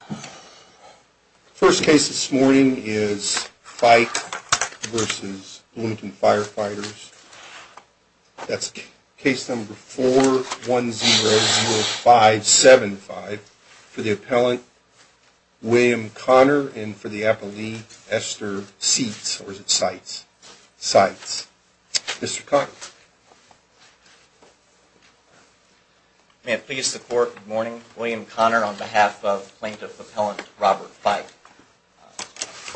The first case this morning is Fike v. Bloomington Firefighters. That's case number 4100575 for the appellant William Conner and for the appellee Esther Seitz. Mr. Conner. May it please the court, good morning. William Conner on behalf of plaintiff appellant Robert Fike.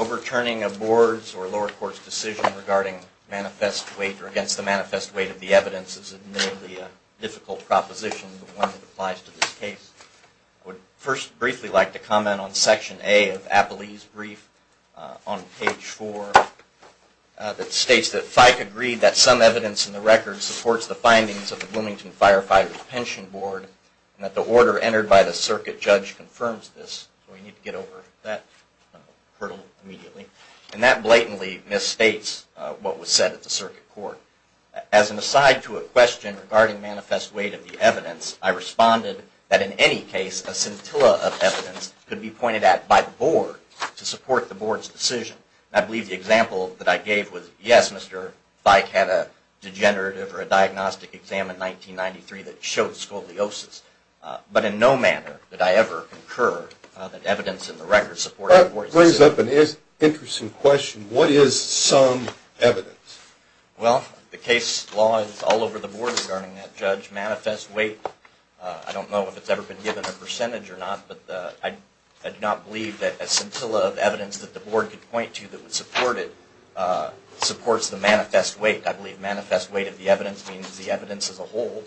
Overturning a board's or lower court's decision regarding manifest weight or against the manifest weight of the evidence is admittedly a difficult proposition, but one that applies to this case. I would first briefly like to comment on Section A of Appellee's Brief on page 4 that states that Fike agreed that some evidence in the record supports the findings of the Bloomington Firefighters' Pension Board and that the order entered by the circuit judge confirms this. We need to get over that hurdle immediately. And that blatantly misstates what was said at the circuit court. As an aside to a question regarding manifest weight of the evidence, I responded that in any case a scintilla of evidence could be pointed at by the board to support the board's decision. I believe the example that I gave was yes, Mr. Fike had a degenerative or a diagnostic exam in 1993 that showed scoliosis, but in no manner did I ever concur that evidence in the record supported the board's decision. That brings up an interesting question. What is some evidence? Well, the case law is all over the board regarding that judge manifest weight. I don't know if it's ever been given a percentage or not, but I do not believe that a scintilla of evidence that the board could point to that would support it supports the manifest weight. I believe manifest weight of the evidence means the evidence as a whole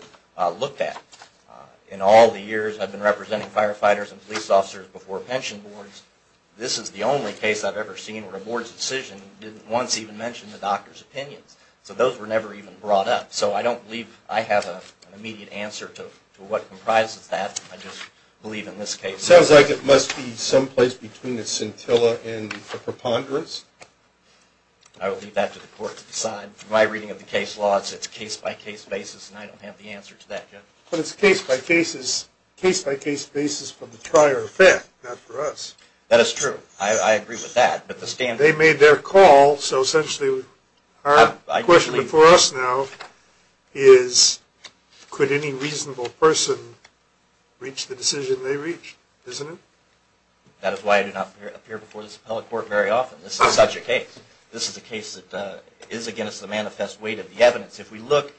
looked at. In all the years I've been representing firefighters and police officers before pension boards, this is the only case I've ever seen where a board's decision didn't once even mention the doctor's opinions. So those were never even brought up. So I don't believe I have an immediate answer to what comprises that. I just believe in this case. It sounds like it must be someplace between the scintilla and the preponderance. I will leave that to the court to decide. From my reading of the case law, it's a case-by-case basis, and I don't have the answer to that yet. But it's a case-by-case basis from the prior event, not for us. That is true. I agree with that. They made their call, so essentially our question before us now is, could any reasonable person reach the decision they reached, isn't it? That is why I do not appear before this appellate court very often. This is such a case. This is a case that is against the manifest weight of the evidence if we look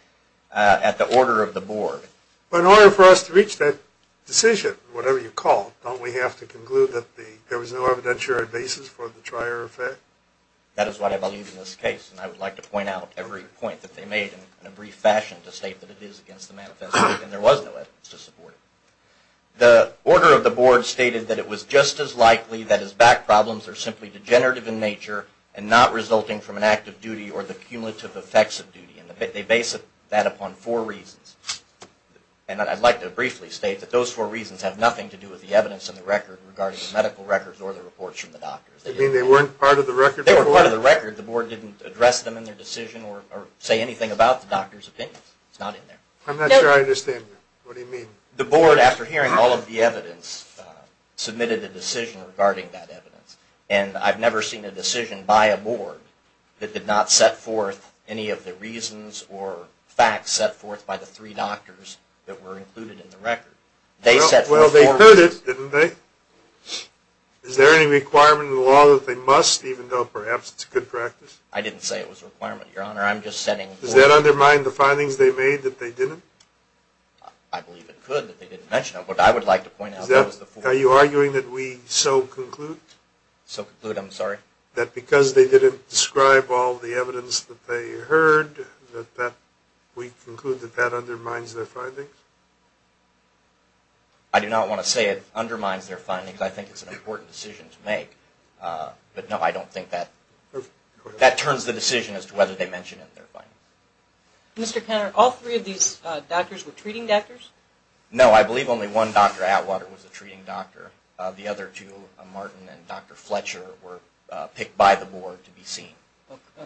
at the order of the board. But in order for us to reach that decision, whatever you call it, don't we have to conclude that there was no evidentiary basis for the prior effect? That is what I believe in this case, and I would like to point out every point that they made in a brief fashion to state that it is against the manifest weight and there was no evidence to support it. The order of the board stated that it was just as likely that his back problems are simply degenerative in nature and not resulting from an act of duty or the cumulative effects of duty, and they base that upon four reasons. And I'd like to briefly state that those four reasons have nothing to do with the evidence in the record regarding the medical records or the reports from the doctors. You mean they weren't part of the record? They weren't part of the record. The board didn't address them in their decision or say anything about the doctors' opinions. It's not in there. I'm not sure I understand you. What do you mean? The board, after hearing all of the evidence, submitted a decision regarding that evidence, and I've never seen a decision by a board that did not set forth any of the reasons or facts set forth by the three doctors that were included in the record. Well, they could have, didn't they? Is there any requirement in the law that they must, even though perhaps it's a good practice? I didn't say it was a requirement, Your Honor. Does that undermine the findings they made that they didn't? I believe it could that they didn't mention it, but I would like to point out that it was the four reasons. Are you arguing that we so conclude? So conclude, I'm sorry? That because they didn't describe all of the evidence that they heard, that we conclude that that undermines their findings? I do not want to say it undermines their findings. I think it's an important decision to make. But, no, I don't think that turns the decision as to whether they mentioned it in their findings. Mr. Conner, all three of these doctors were treating doctors? No, I believe only one, Dr. Atwater, was a treating doctor. The other two, Martin and Dr. Fletcher, were picked by the board to be seen.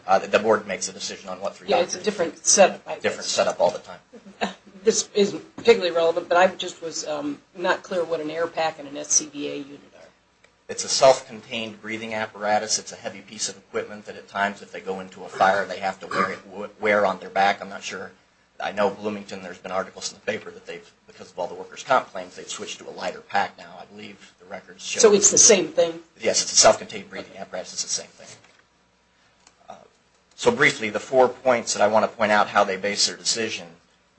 The board makes a decision on what three doctors. Yeah, it's a different set-up, I guess. A different set-up all the time. This isn't particularly relevant, but I just was not clear what an AIRPAC and an SCBA unit are. It's a self-contained breathing apparatus. It's a heavy piece of equipment that at times, if they go into a fire, they have to wear on their back. I'm not sure. I know Bloomington, there's been articles in the paper that they've, because of all the workers' comp claims, they've switched to a lighter pack now, I believe the records show. So it's the same thing? Yes, it's a self-contained breathing apparatus, it's the same thing. So briefly, the four points that I want to point out how they base their decision.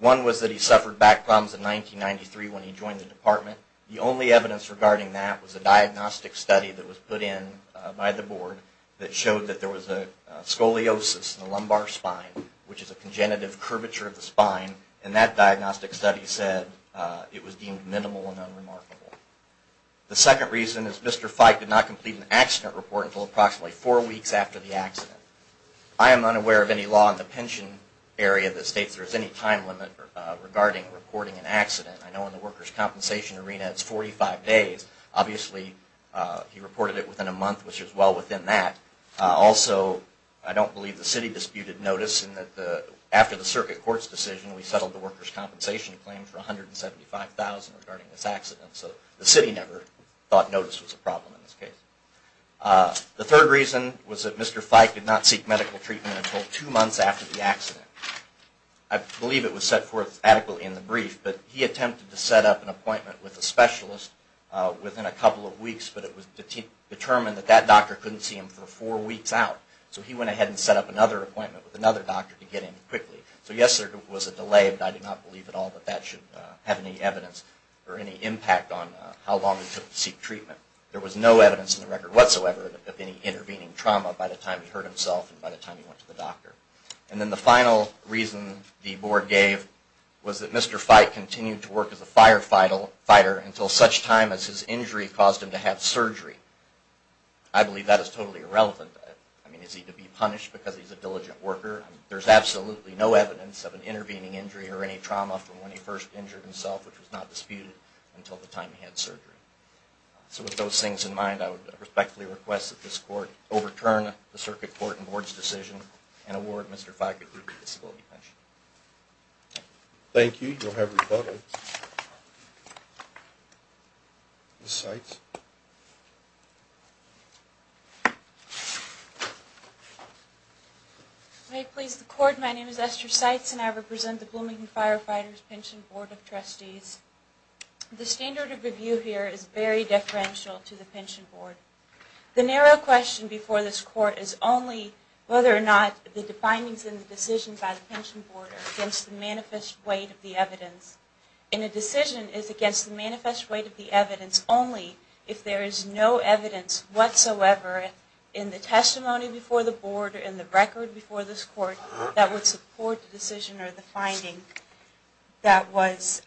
One was that he suffered back problems in 1993 when he joined the department. The only evidence regarding that was a diagnostic study that was put in by the board that showed that there was a scoliosis in the lumbar spine, which is a congenitive curvature of the spine. And that diagnostic study said it was deemed minimal and unremarkable. The second reason is Mr. Feig did not complete an accident report until approximately four weeks after the accident. I am unaware of any law in the pension area that states there is any time limit regarding reporting an accident. I know in the workers' compensation arena, it's 45 days. Obviously, he reported it within a month, which is well within that. Also, I don't believe the city disputed notice in that after the circuit court's decision, we settled the workers' compensation claim for $175,000 regarding this accident. So the city never thought notice was a problem in this case. The third reason was that Mr. Feig did not seek medical treatment until two months after the accident. I believe it was set forth adequately in the brief, but he attempted to set up an appointment with a specialist within a couple of weeks, but it was determined that that doctor couldn't see him for four weeks out. So he went ahead and set up another appointment with another doctor to get him quickly. So yes, there was a delay, but I do not believe at all that that should have any evidence or any impact on how long it took to seek treatment. There was no evidence in the record whatsoever of any intervening trauma by the time he hurt himself and by the time he went to the doctor. And then the final reason the board gave was that Mr. Feig continued to work as a firefighter until such time as his injury caused him to have surgery. I believe that is totally irrelevant. I mean, is he to be punished because he's a diligent worker? There's absolutely no evidence of an intervening injury or any trauma from when he first injured himself, which was not disputed until the time he had surgery. So with those things in mind, I would respectfully request that this court overturn the circuit court and board's decision and award Mr. Feig a group disability pension. Thank you. You'll have rebuttal. Ms. Seitz. May it please the court, my name is Esther Seitz and I represent the Bloomington Firefighters Pension Board of Trustees. The standard of review here is very deferential to the pension board. The narrow question before this court is only whether or not the findings in the decision by the pension board are against the manifest weight of the evidence. And a decision is against the manifest weight of the evidence only if there is no evidence whatsoever in the testimony before the board or in the record before this court that would support the decision or the finding that was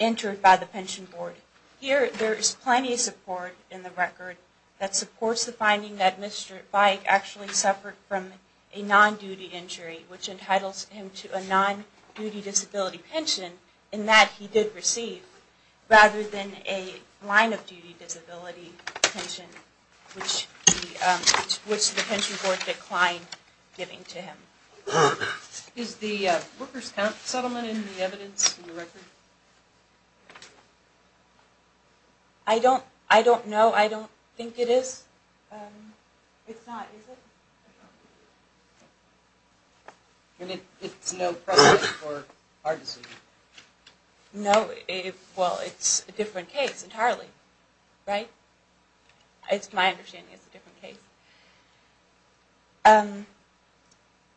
entered by the pension board. Here, there is plenty of support in the record that supports the finding that Mr. Feig actually suffered from a non-duty injury which entitles him to a non-duty disability pension and that he did receive rather than a line of duty disability pension which the pension board declined giving to him. Is the worker's count settlement in the evidence in the record? I don't know, I don't think it is. It's not, is it? It's no precedent for our decision. No, well it's a different case entirely, right? It's my understanding it's a different case.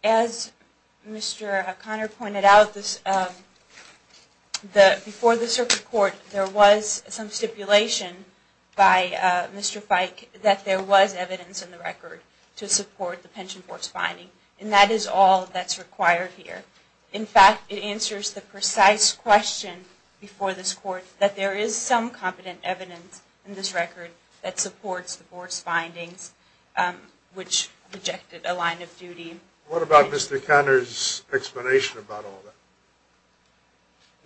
As Mr. O'Connor pointed out, before this report there was some stipulation by Mr. Feig that there was evidence in the record to support the pension board's finding and that is all that's required here. In fact, it answers the precise question before this court that there is some competent evidence in this record that supports the board's findings. Which rejected a line of duty. What about Mr. O'Connor's explanation about all that?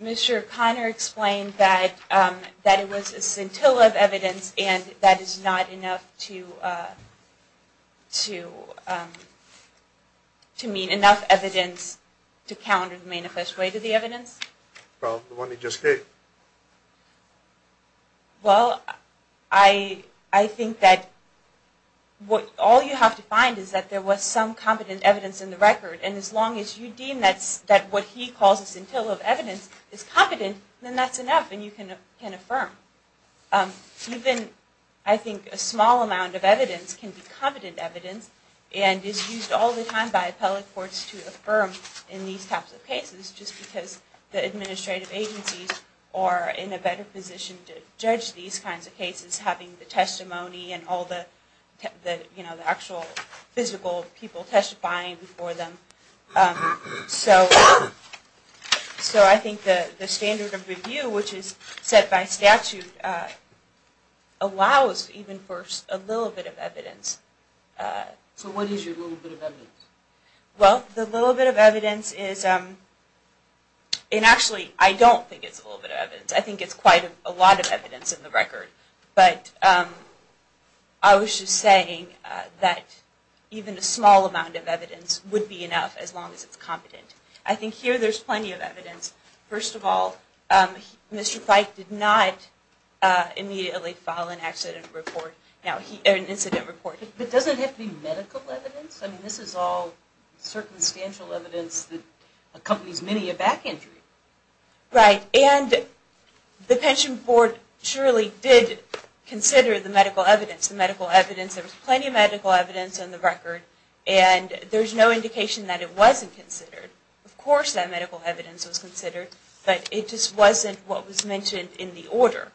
Mr. O'Connor explained that it was a scintilla of evidence and that is not enough to mean enough evidence to counter the manifest way to the evidence. Well, the one he just gave. Well, I think that all you have to find is that there was some competent evidence in the record and as long as you deem that what he calls a scintilla of evidence is competent, then that's enough and you can affirm. Even I think a small amount of evidence can be competent evidence and is used all the time by appellate courts to affirm in these types of cases just because the administrative agencies are in a better position to judge these kinds of cases having the testimony and all the actual physical people testifying before them. So I think the standard of review which is set by statute allows even for a little bit of evidence. So what is your little bit of evidence? Well, the little bit of evidence is, and actually I don't think it's a little bit of evidence. I think it's quite a lot of evidence in the record. But I was just saying that even a small amount of evidence would be enough as long as it's competent. I think here there's plenty of evidence. First of all, Mr. Fyke did not immediately file an incident report. But doesn't it have to be medical evidence? I mean, this is all circumstantial evidence that accompanies many a back injury. Right, and the pension board surely did consider the medical evidence. There was plenty of medical evidence in the record and there's no indication that it wasn't considered. Of course that medical evidence was considered, but it just wasn't what was mentioned in the order.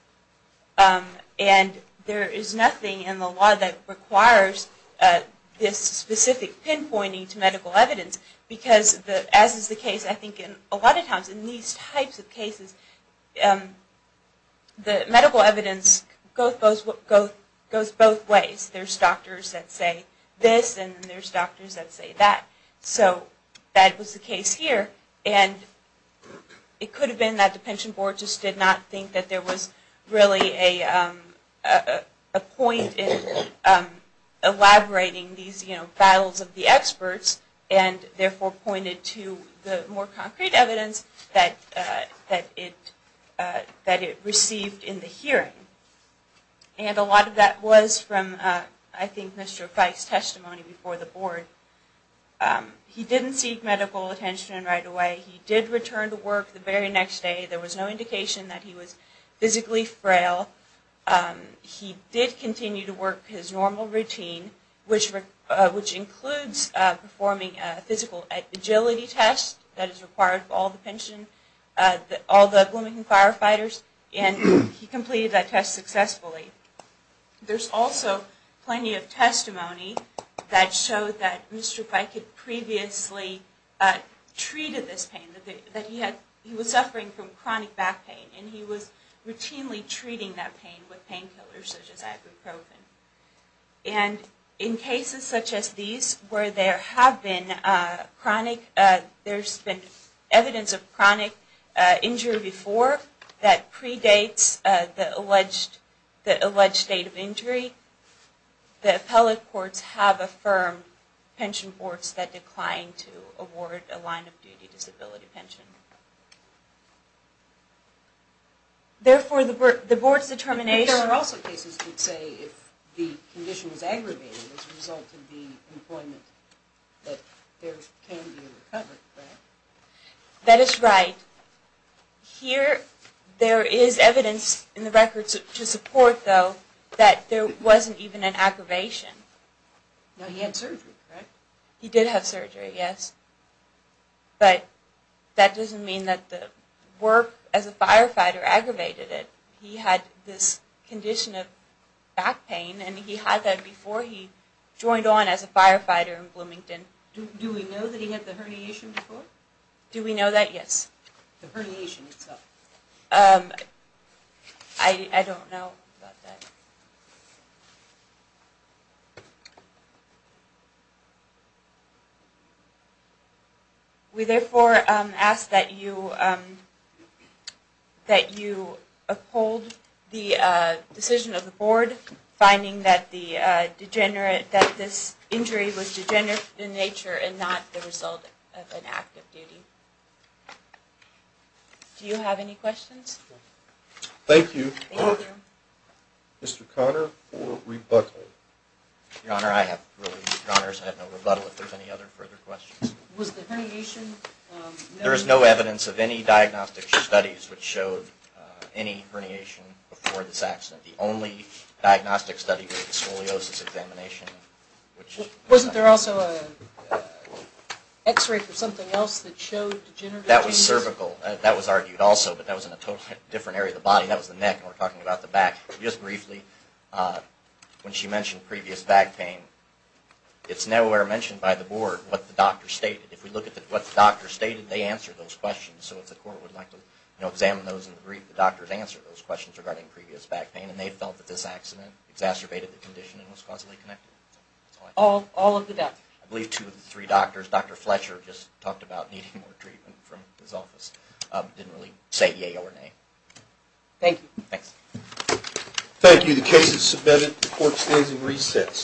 And there is nothing in the law that requires this specific pinpointing to medical evidence because, as is the case I think a lot of times in these types of cases, the medical evidence goes both ways. There's doctors that say this and there's doctors that say that. So that was the case here. And it could have been that the pension board just did not think that there was really a point in elaborating these battles of the experts and therefore pointed to the more concrete evidence that it received in the hearing. And a lot of that was from, I think, Mr. Fyke's testimony before the board. He didn't seek medical attention right away. He did return to work the very next day. There was no indication that he was physically frail. He did continue to work his normal routine, which includes performing a physical agility test that is required for all the Bloomington firefighters, and he completed that test successfully. There's also plenty of testimony that showed that Mr. Fyke had previously treated this pain, that he was suffering from chronic back pain, and he was routinely treating that pain with painkillers such as ibuprofen. And in cases such as these where there have been chronic, there's been evidence of chronic injury before that predates the alleged state of injury, the appellate courts have affirmed pension boards that declined to award a line-of-duty disability pension. Therefore, the board's determination... That is right. Here, there is evidence in the records to support, though, that there wasn't even an aggravation. He had surgery, right? He did have surgery, yes. But that doesn't mean that the work as a firefighter aggravated it. He had this condition of back pain, and he had that before he joined on as a firefighter in Bloomington. Do we know that he had the herniation before? Do we know that? Yes. The herniation itself. I don't know about that. We therefore ask that you uphold the decision of the board, finding that this injury was degenerative in nature and not the result of an act of duty. Do you have any questions? Thank you. Mr. Conner, rebuttal. Your Honor, I have three questions. Your Honor, I have no rebuttal if there are any other further questions. Was the herniation... There is no evidence of any diagnostic studies which showed any herniation before this accident. The only diagnostic study was the scoliosis examination, which... Wasn't there also an x-ray for something else that showed degenerative... That was cervical. That was argued also, but that was in a totally different area of the body. That was the neck, and we're talking about the back. Just briefly, when she mentioned previous back pain, it's nowhere mentioned by the board what the doctor stated. If we look at what the doctor stated, they answered those questions. So if the court would like to examine those in the brief, the doctors answered those questions regarding previous back pain, and they felt that this accident exacerbated the condition and was causally connected. All of the doctors. I believe two of the three doctors. Dr. Fletcher just talked about needing more treatment from his office. Didn't really say E, A, O, or N, A. Thank you. Thanks. Thank you. The case is submitted. The court stands in recess.